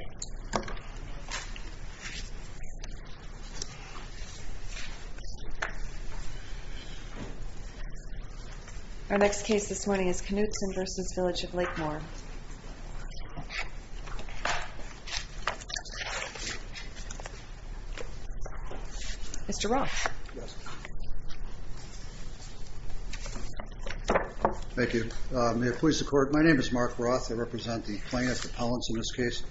Our next case this morning is Knutson v. Village of Lakemoor. Mr. Roth. Thank you. May it please the Court, my name is Mark Roth, I represent the plaintiff, the Pellants in this case.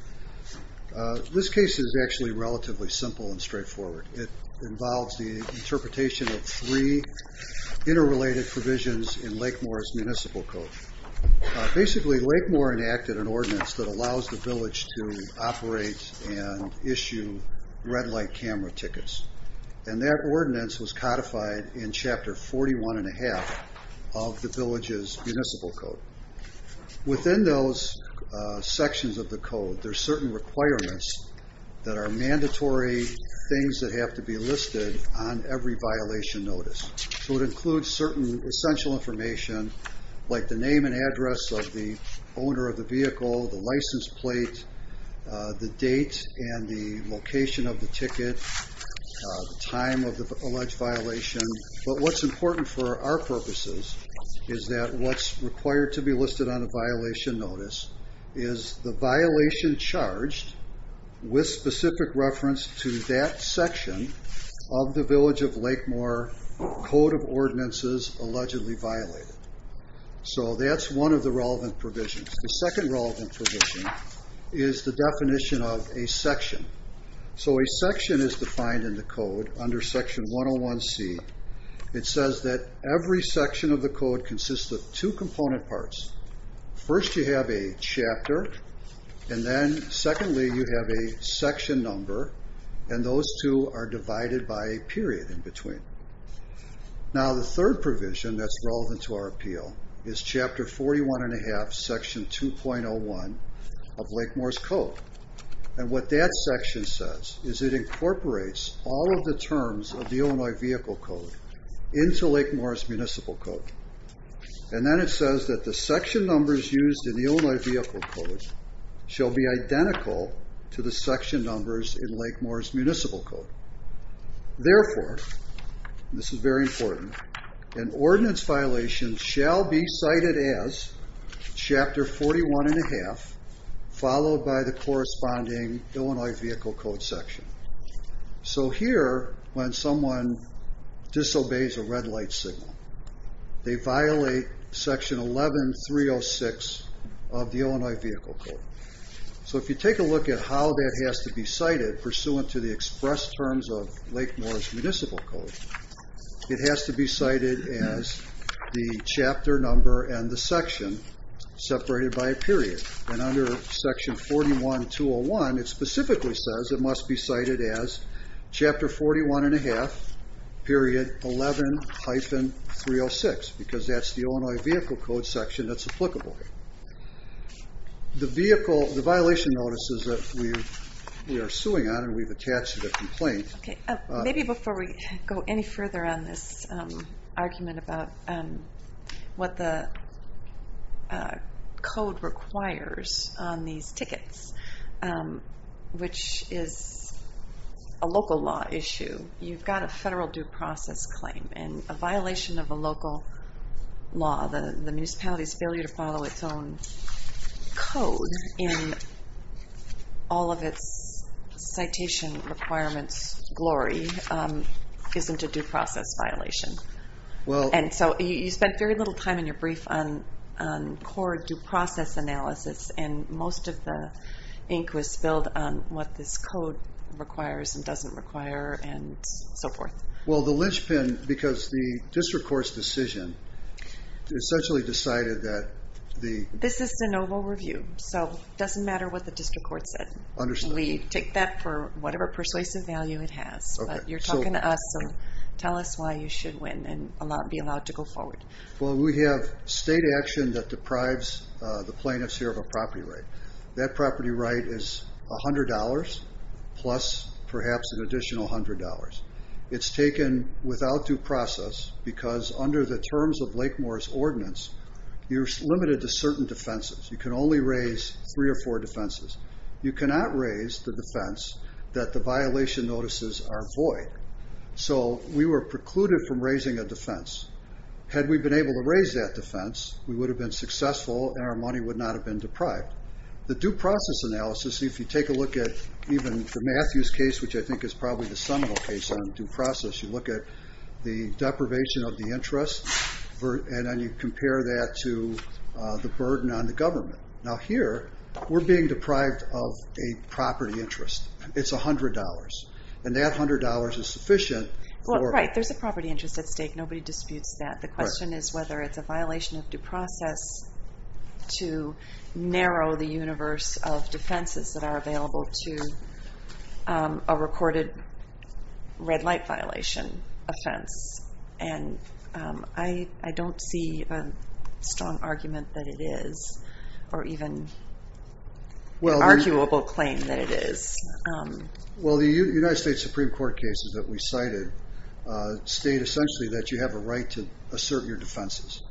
This case is actually relatively simple and straightforward. It involves the interpretation of three interrelated provisions in Lakemoor's Municipal Code. Basically Lakemoor enacted an ordinance that allows the village to operate and issue red light camera tickets, and that ordinance was codified in Chapter 41.5 of the village's Municipal Code. Within those sections of the code, there are certain requirements that are mandatory things that have to be listed on every violation notice, so it includes certain essential information like the name and address of the owner of the vehicle, the license plate, the date and the location of the ticket, the time of the alleged violation, but what's important for our purposes is that what's required to be listed on a violation notice is the violation charged with specific reference to that section of the Village of Lakemoor Code of Ordinances allegedly violated. So that's one of the relevant provisions. The second relevant provision is the definition of a section. So a section is defined in the code under Section 101C. It says that every section of the code consists of two component parts. First you have a chapter, and then secondly you have a section number, and those two are divided by a period in between. Now the third provision that's relevant to our appeal is Chapter 41.5, Section 2.01 of what that section says is it incorporates all of the terms of the Illinois Vehicle Code into Lakemoor's Municipal Code, and then it says that the section numbers used in the Illinois Vehicle Code shall be identical to the section numbers in Lakemoor's Municipal Code. Therefore, this is very important, an ordinance violation shall be cited as Chapter 41.5 followed by the corresponding Illinois Vehicle Code section. So here, when someone disobeys a red light signal, they violate Section 11.306 of the Illinois Vehicle Code. So if you take a look at how that has to be cited pursuant to the express terms of Lakemoor's Municipal Code, it has to be cited as the chapter number and the section separated by a period. And under Section 41.201, it specifically says it must be cited as Chapter 41.5.11-306 because that's the Illinois Vehicle Code section that's applicable. The violation notice is that we are suing on, and we've attached a complaint. Okay. Maybe before we go any further on this argument about what the code requires on these tickets, which is a local law issue, you've got a federal due process claim, and a violation of a local law, the municipality's failure to follow its own code in all of its citation requirements glory isn't a due process violation. And so you spent very little time in your brief on core due process analysis, and most of the ink was spilled on what this code requires and doesn't require and so forth. Well, the linchpin, because the district court's decision essentially decided that the... This is de novo review, so it doesn't matter what the district court said. Understood. We take that for whatever persuasive value it has, but you're talking to us, so tell us why you should win and be allowed to go forward. Well, we have state action that deprives the plaintiffs here of a property right. That property right is $100 plus perhaps an additional $100. It's taken without due process because under the terms of Lakemoor's ordinance, you're limited to certain defenses. You can only raise three or four defenses. You cannot raise the defense that the violation notices are void. So we were precluded from raising a defense. Had we been able to raise that defense, we would have been successful and our money would not have been deprived. The due process analysis, if you take a look at even the Matthews case, which I think is probably the seminal case on due process, you look at the deprivation of the interest and then you compare that to the burden on the government. Now here, we're being deprived of a property interest. It's $100, and that $100 is sufficient for... Right. There's a property interest at stake. Nobody disputes that. Right. The question is whether it's a violation of due process to narrow the universe of defenses that are available to a recorded red light violation offense. I don't see a strong argument that it is or even an arguable claim that it is. Well the United States Supreme Court cases that we cited state essentially that you have a right to assert your defenses.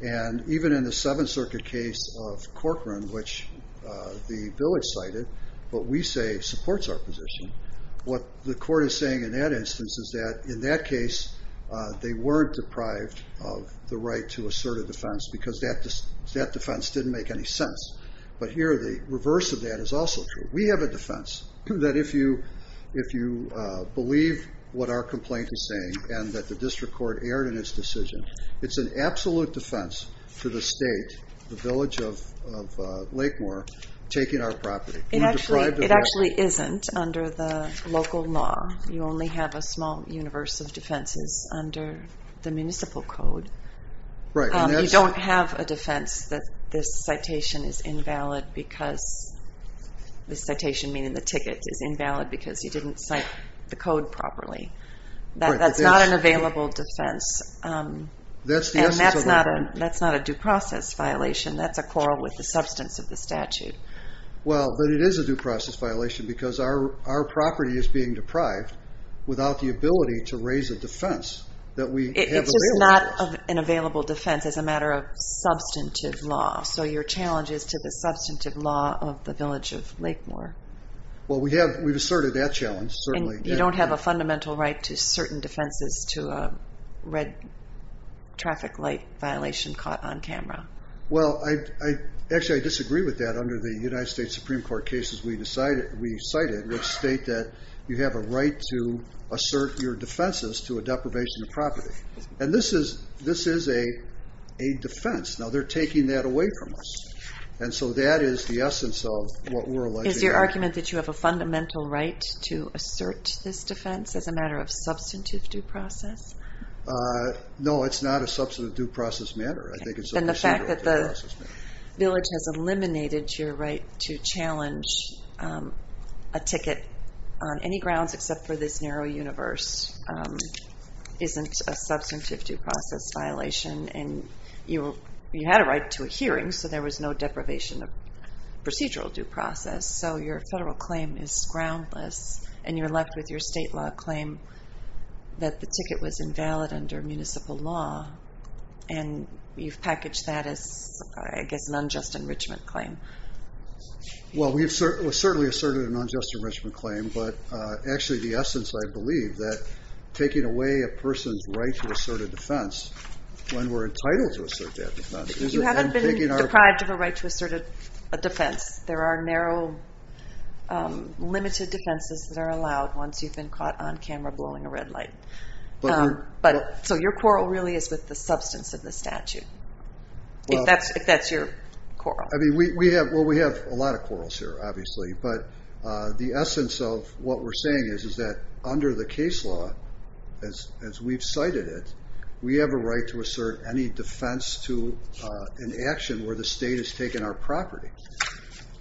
And even in the Seventh Circuit case of Corcoran, which the bill is cited, but we say supports our position, what the court is saying in that instance is that in that case, they weren't deprived of the right to assert a defense because that defense didn't make any sense. But here, the reverse of that is also true. We have a defense that if you believe what our complaint is saying and that the district court erred in its decision, it's an absolute defense to the state, the village of Lake Moore, taking our property. It actually isn't under the local law. You only have a small universe of defenses under the municipal code. Right. You don't have a defense that this citation is invalid because, this citation meaning the ticket, is invalid because you didn't cite the code properly. Right. That's not an available defense and that's not a due process violation. That's a quarrel with the substance of the statute. Well, but it is a due process violation because our property is being deprived without the ability to raise a defense that we have the real defense. It's just not an available defense as a matter of substantive law. So your challenge is to the substantive law of the village of Lake Moore. Well we have asserted that challenge, certainly. You don't have a fundamental right to certain defenses to a red traffic light violation caught on camera. Well, actually I disagree with that. Under the United States Supreme Court cases we cited, which state that you have a right to assert your defenses to a deprivation of property. And this is a defense. Now they're taking that away from us. And so that is the essence of what we're alleging. Is your argument that you have a fundamental right to assert this defense as a matter of substantive due process? No, it's not a substantive due process matter. I think it's a procedural due process matter. And the fact that the village has eliminated your right to challenge a ticket on any grounds except for this narrow universe isn't a substantive due process violation. And you had a right to a hearing, so there was no deprivation of procedural due process. So your federal claim is groundless, and you're left with your state law claim that the ticket was invalid under municipal law, and you've packaged that as, I guess, an unjust enrichment claim. Well, we've certainly asserted an unjust enrichment claim, but actually the essence, I believe, that taking away a person's right to assert a defense when we're entitled to assert that defense, is it then taking our- You haven't been deprived of a right to assert a defense. There are narrow, limited defenses that are allowed once you've been caught on camera blowing a red light. So your quarrel really is with the substance of the statute, if that's your quarrel. Well, we have a lot of quarrels here, obviously, but the essence of what we're saying is that under the case law, as we've cited it, we have a right to assert any defense to an action where the state has taken our property.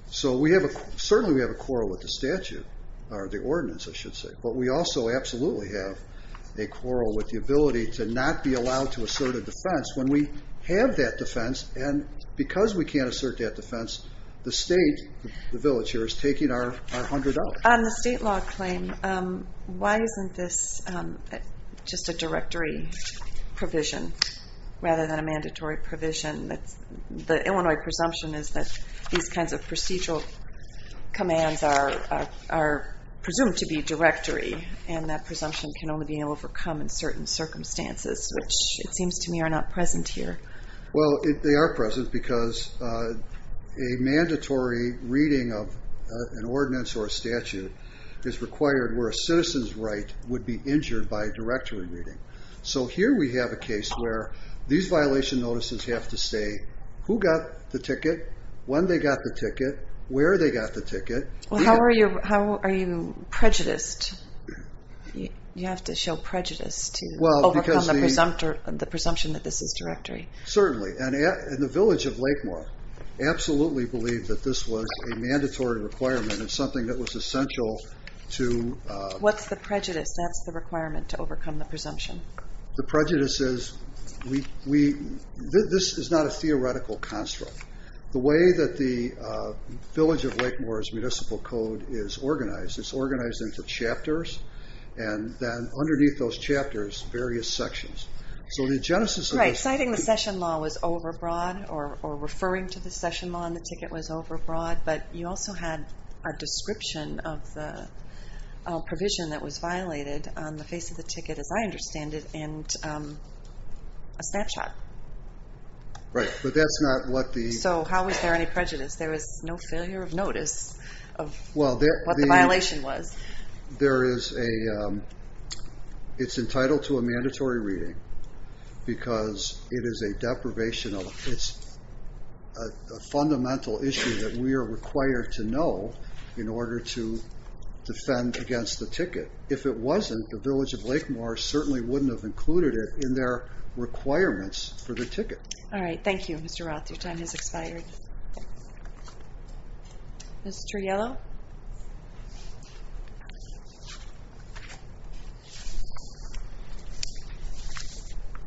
So certainly we have a quarrel with the statute, or the ordinance, I should say, but we also absolutely have a quarrel with the ability to not be allowed to assert a defense when we have that defense, and because we can't assert that defense, the state, the village here, is taking our $100. On the state law claim, why isn't this just a directory provision rather than a mandatory provision? The Illinois presumption is that these kinds of procedural commands are presumed to be directory, and that presumption can only be overcome in certain circumstances, which it seems to me are not present here. Well, they are present because a mandatory reading of an ordinance or a statute is required where a citizen's right would be injured by directory reading. So here we have a case where these violation notices have to say who got the ticket, when they got the ticket, where they got the ticket. Well, how are you prejudiced? You have to show prejudice to overcome the presumption that this is directory. Certainly, and the village of Lakemoor absolutely believed that this was a mandatory requirement and something that was essential to... What's the prejudice? That's the requirement to overcome the presumption. The prejudice is... This is not a theoretical construct. The way that the village of Lakemoor's municipal code is organized, it's organized into chapters, and then underneath those chapters, various sections. So the genesis of this... Right. Citing the session law was overbroad, or referring to the session law and the ticket was overbroad, but you also had a description of the provision that was violated on the face of the ticket, as I understand it, and a snapshot. Right. But that's not what the... So how is there any prejudice? There is no failure of notice of what the violation was. There is a... It's entitled to a mandatory reading, because it is a deprivation of... It's a fundamental issue that we are required to know in order to defend against the ticket. If it wasn't, the village of Lakemoor certainly wouldn't have included it in their requirements for the ticket. All right. Thank you, Mr. Roth. Your time has expired. Ms. Turriello?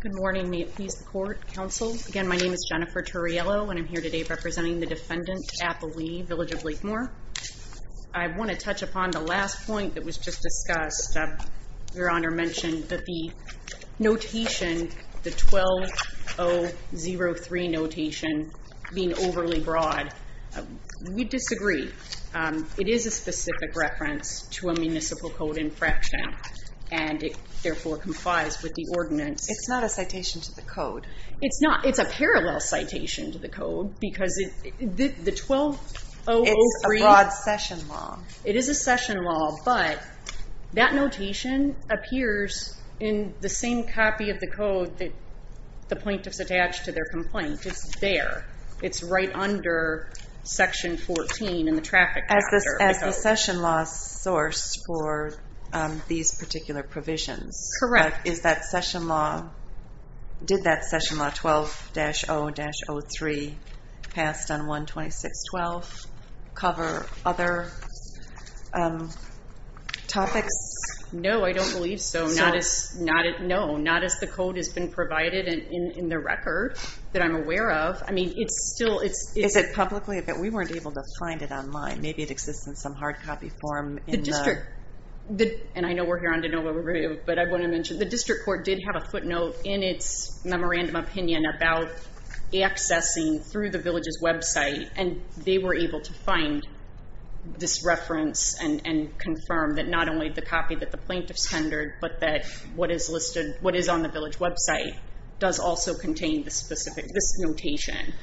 Good morning. May it please the court, counsel? Again, my name is Jennifer Turriello, and I'm here today representing the defendant, Appalee, Village of Lakemoor. I want to touch upon the last point that was just discussed. Your Honor mentioned that the notation, the 12003 notation being overly broad, we disagree. It is a specific reference to a municipal code infraction, and it therefore complies with the ordinance. It's not a citation to the code. It's not. It's a parallel citation to the code, because the 12003... It's a broad session law. It is a session law, but that notation appears in the same copy of the code that the plaintiff's attached to their complaint. It's there. It's right under section 14 in the traffic... As the session law source for these particular provisions. Correct. Is that session law... Did that session law 12-0-03 passed on 12612 cover other topics? No, I don't believe so. Not as... No. Not as the code has been provided in the record that I'm aware of. I mean, it's still... Is it publicly? We weren't able to find it online. Maybe it exists in some hard copy form in the... The district... And I know we're here on DeNova, but I want to mention the district court did have a footnote in its memorandum opinion about accessing through the village's website, and they were able to find this reference and confirm that not only the copy that the plaintiff's tendered, but that what is listed... What is on the village website does also contain the specific... This notation.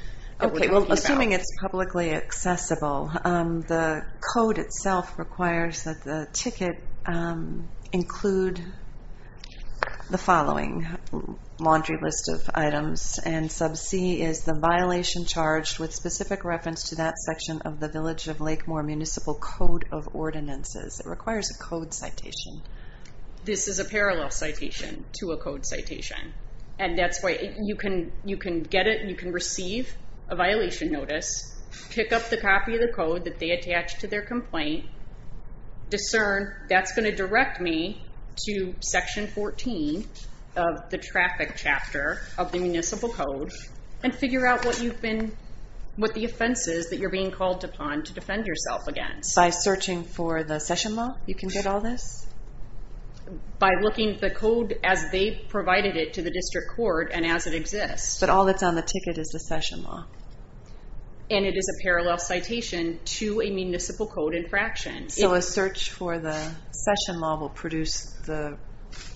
Okay. Well, assuming it's publicly accessible, the code itself requires that the ticket... Include the following laundry list of items, and sub C is the violation charged with specific reference to that section of the Village of Lakemore Municipal Code of Ordinances. It requires a code citation. This is a parallel citation to a code citation, and that's why you can get it and you can receive a violation notice, pick up the copy of the code that they attached to their complaint, discern, that's going to direct me to section 14 of the traffic chapter of the Municipal Code, and figure out what you've been... What the offense is that you're being called upon to defend yourself against. By searching for the session law, you can get all this? By looking at the code as they provided it to the district court and as it exists. But all that's on the ticket is the session law. And it is a parallel citation to a municipal code infraction. So a search for the session law will produce the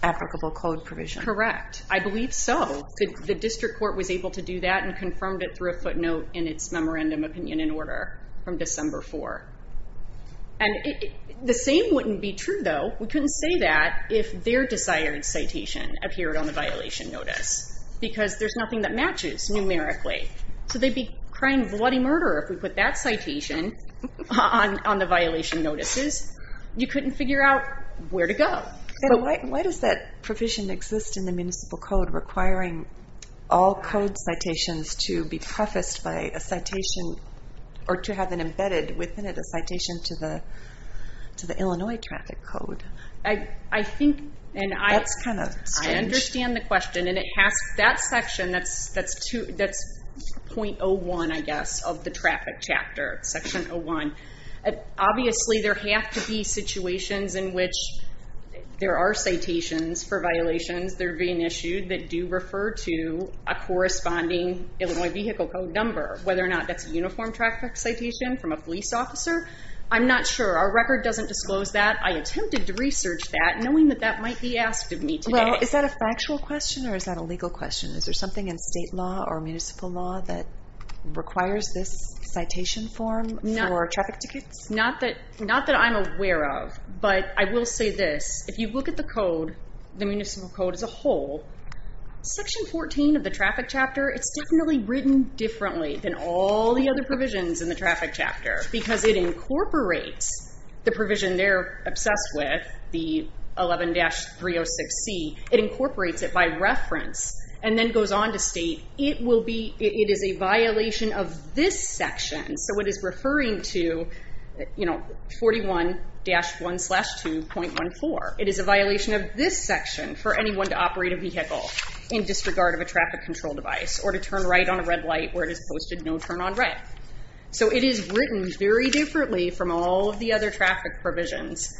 applicable code provision? Correct. I believe so. The district court was able to do that and confirmed it through a footnote in its memorandum opinion and order from December 4. And the same wouldn't be true though, we couldn't say that if their desired citation appeared on the violation notice, because there's nothing that matches numerically. So they'd be crying bloody murder if we put that citation on the violation notices. You couldn't figure out where to go. Why does that provision exist in the Municipal Code requiring all code citations to be prefaced by a citation or to have it embedded within it, a citation to the Illinois traffic code? I think... That's kind of strange. I understand the question and it has that section that's .01 I guess of the traffic chapter, section 01. Obviously there have to be situations in which there are citations for violations that are being issued that do refer to a corresponding Illinois vehicle code number. Whether or not that's a uniform traffic citation from a police officer, I'm not sure. Our record doesn't disclose that. I attempted to research that knowing that that might be asked of me today. Is that a factual question or is that a legal question? Is there something in state law or municipal law that requires this citation form for traffic tickets? Not that I'm aware of, but I will say this. If you look at the code, the Municipal Code as a whole, section 14 of the traffic chapter, it's definitely written differently than all the other provisions in the traffic chapter because it incorporates the provision they're obsessed with, the 11-306C, it incorporates it by reference and then goes on to state it is a violation of this section. So it is referring to 41-1-2.14. It is a violation of this section for anyone to operate a vehicle in disregard of a traffic control device or to turn right on a red light where it is posted no turn on red. So it is written very differently from all of the other traffic provisions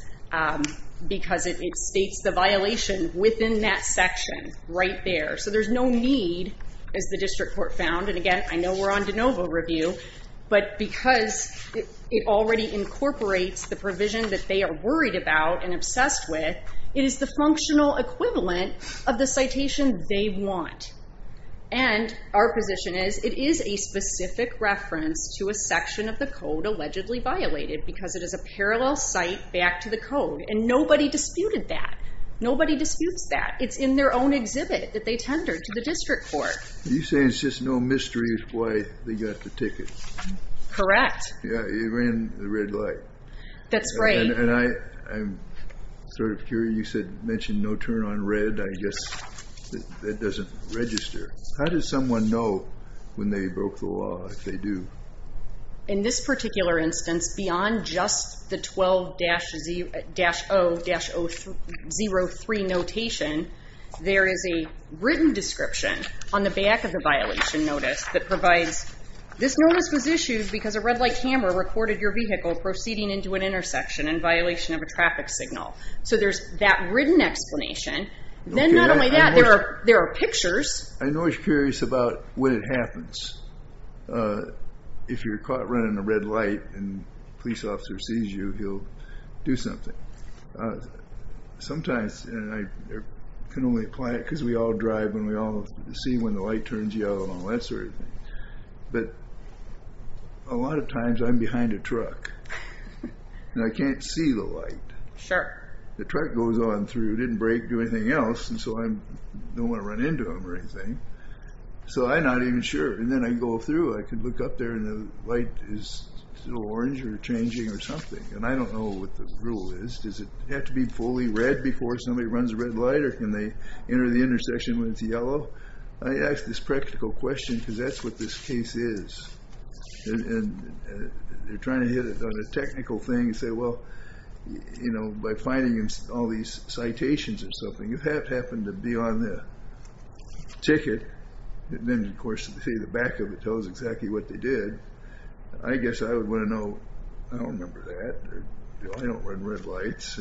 because it states the violation within that section right there. So there's no need, as the district court found, and again, I know we're on de novo review, but because it already incorporates the provision that they are worried about and obsessed with, it is the functional equivalent of the citation they want. And our position is it is a specific reference to a section of the code allegedly violated because it is a parallel site back to the code, and nobody disputed that. Nobody disputes that. It's in their own exhibit that they tendered to the district court. You say it's just no mystery as to why they got the ticket. Correct. Yeah, it ran the red light. That's right. And I'm sort of curious. You mentioned no turn on red. I guess that doesn't register. How does someone know when they broke the law if they do? In this particular instance, beyond just the 12-0-03 notation, there is a written description on the back of the violation notice that provides, this notice was issued because a red light camera recorded your vehicle proceeding into an intersection in violation of a traffic signal. So there's that written explanation. Then not only that, there are pictures. I'm always curious about when it happens. If you're caught running a red light and a police officer sees you, he'll do something. Sometimes, and I can only apply it because we all drive and we all see when the light turns yellow and all that sort of thing. But a lot of times, I'm behind a truck and I can't see the light. Sure. The truck goes on through. It didn't break or do anything else, and so I don't want to run into him or anything. So I'm not even sure. And then I go through. I can look up there and the light is still orange or changing or something. And I don't know what the rule is. Does it have to be fully red before somebody runs a red light? Or can they enter the intersection when it's yellow? I ask this practical question because that's what this case is. And you're trying to hit it on a technical thing and say, well, by finding all these citations or something, you have happened to be on the ticket. And then, of course, to see the back of it tells exactly what they did. I guess I would want to know. I don't remember that. I don't run red lights.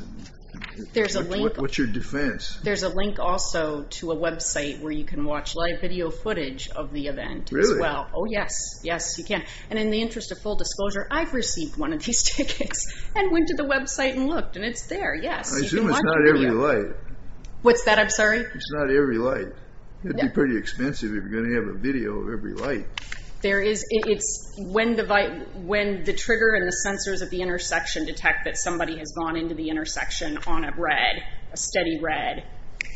There's a link. What's your defense? There's a link also to a website where you can watch live video footage of the event as well. Oh, yes. Yes, you can. And in the interest of full disclosure, I've received one of these tickets and went to the website and looked. And it's there. Yes. You can watch the video. I assume it's not every light. What's that? I'm sorry? It's not every light. It'd be pretty expensive if you're going to have a video of every light. There is. It's when the trigger and the sensors at the intersection detect that somebody has gone into the intersection on a red, a steady red.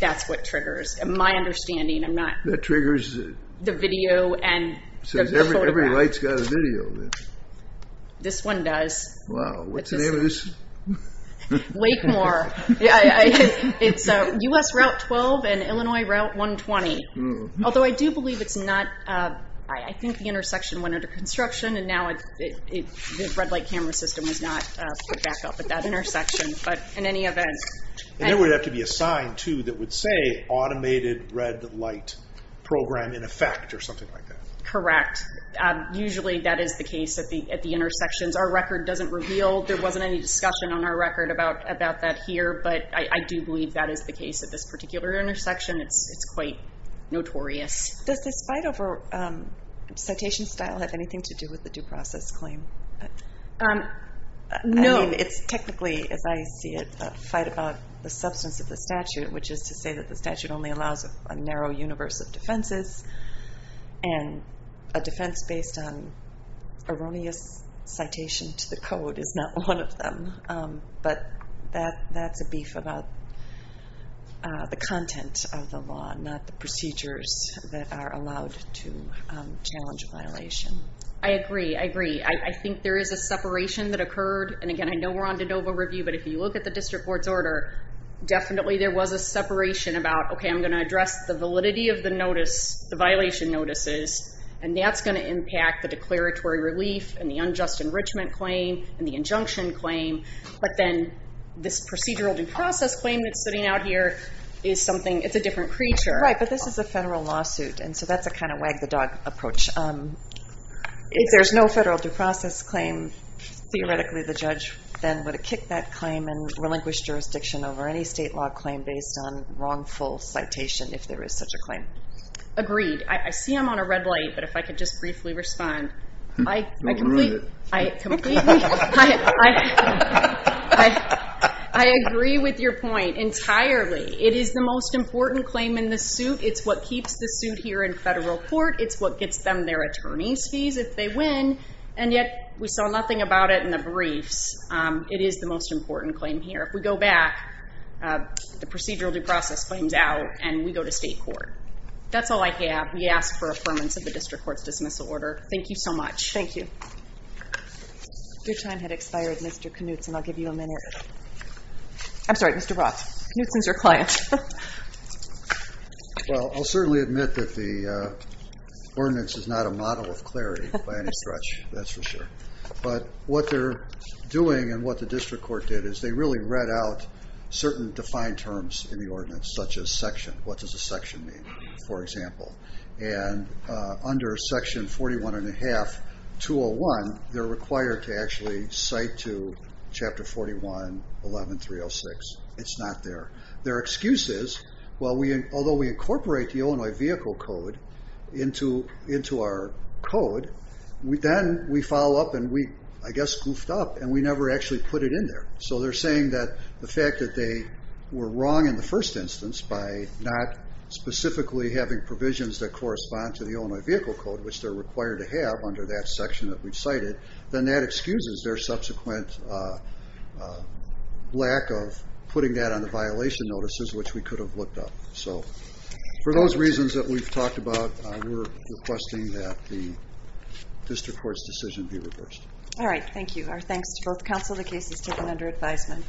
That's what triggers. My understanding. I'm not... That triggers the... The video and the photograph. So every light's got a video then. This one does. Wow. What's the name of this? Wakemore. It's US Route 12 and Illinois Route 120. Although I do believe it's not... I think the intersection went under construction and now the red light camera system is not put back up at that intersection. But in any event... And there would have to be a sign too that would say automated red light program in effect or something like that. Correct. Usually that is the case at the intersections. Our record doesn't reveal. There wasn't any discussion on our record about that here, but I do believe that is the case at this particular intersection. It's quite notorious. Does this fight over citation style have anything to do with the due process claim? No. I mean, it's technically, as I see it, a fight about the substance of the statute, which is to say that the statute only allows a narrow universe of defenses and a defense based on erroneous citation to the code is not one of them, but that's a beef about the content of the law, not the procedures that are allowed to challenge a violation. I agree. I agree. I think there is a separation that occurred. And again, I know we're on de novo review, but if you look at the district court's order, definitely there was a separation about, okay, I'm going to address the validity of the notice, the violation notices, and that's going to impact the declaratory relief and the unjust enrichment claim and the injunction claim. But then this procedural due process claim that's sitting out here is something... It's a different creature. Right. But this is a federal lawsuit. And so that's a kind of wag the dog approach. If there's no federal due process claim, theoretically the judge then would kick that claim and relinquish jurisdiction over any state law claim based on wrongful citation, if there is such a claim. Agreed. I see I'm on a red light, but if I could just briefly respond. I agree with your point entirely. It is the most important claim in the suit. It's what keeps the suit here in federal court. It's what gets them their attorney's fees if they win. And yet we saw nothing about it in the briefs. It is the most important claim here. If we go back, the procedural due process claims out and we go to state court. That's all I have. We ask for affirmance of the district court's dismissal order. Thank you so much. Thank you. Your time had expired, Mr. Knutson. I'll give you a minute. I'm sorry, Mr. Roth. Knutson's your client. Well, I'll certainly admit that the ordinance is not a model of clarity by any stretch. That's for sure. But what they're doing and what the district court did is they really read out certain defined terms in the ordinance, such as section. What does a section mean, for example? And under section 41-1-201, they're required to actually cite to chapter 41-11-306. It's not there. Their excuse is, although we incorporate the Illinois Vehicle Code into our code, then we follow up and we, I guess, goofed up and we never actually put it in there. So they're saying that the fact that they were wrong in the first instance by not specifically having provisions that correspond to the Illinois Vehicle Code, which they're required to have under that section that we've cited, then that excuses their subsequent lack of putting that on the violation notices, which we could have looked up. So for those reasons that we've talked about, we're requesting that the district court's decision be reversed. All right. Thank you. Our thanks to both counsel. The case is taken under advisement.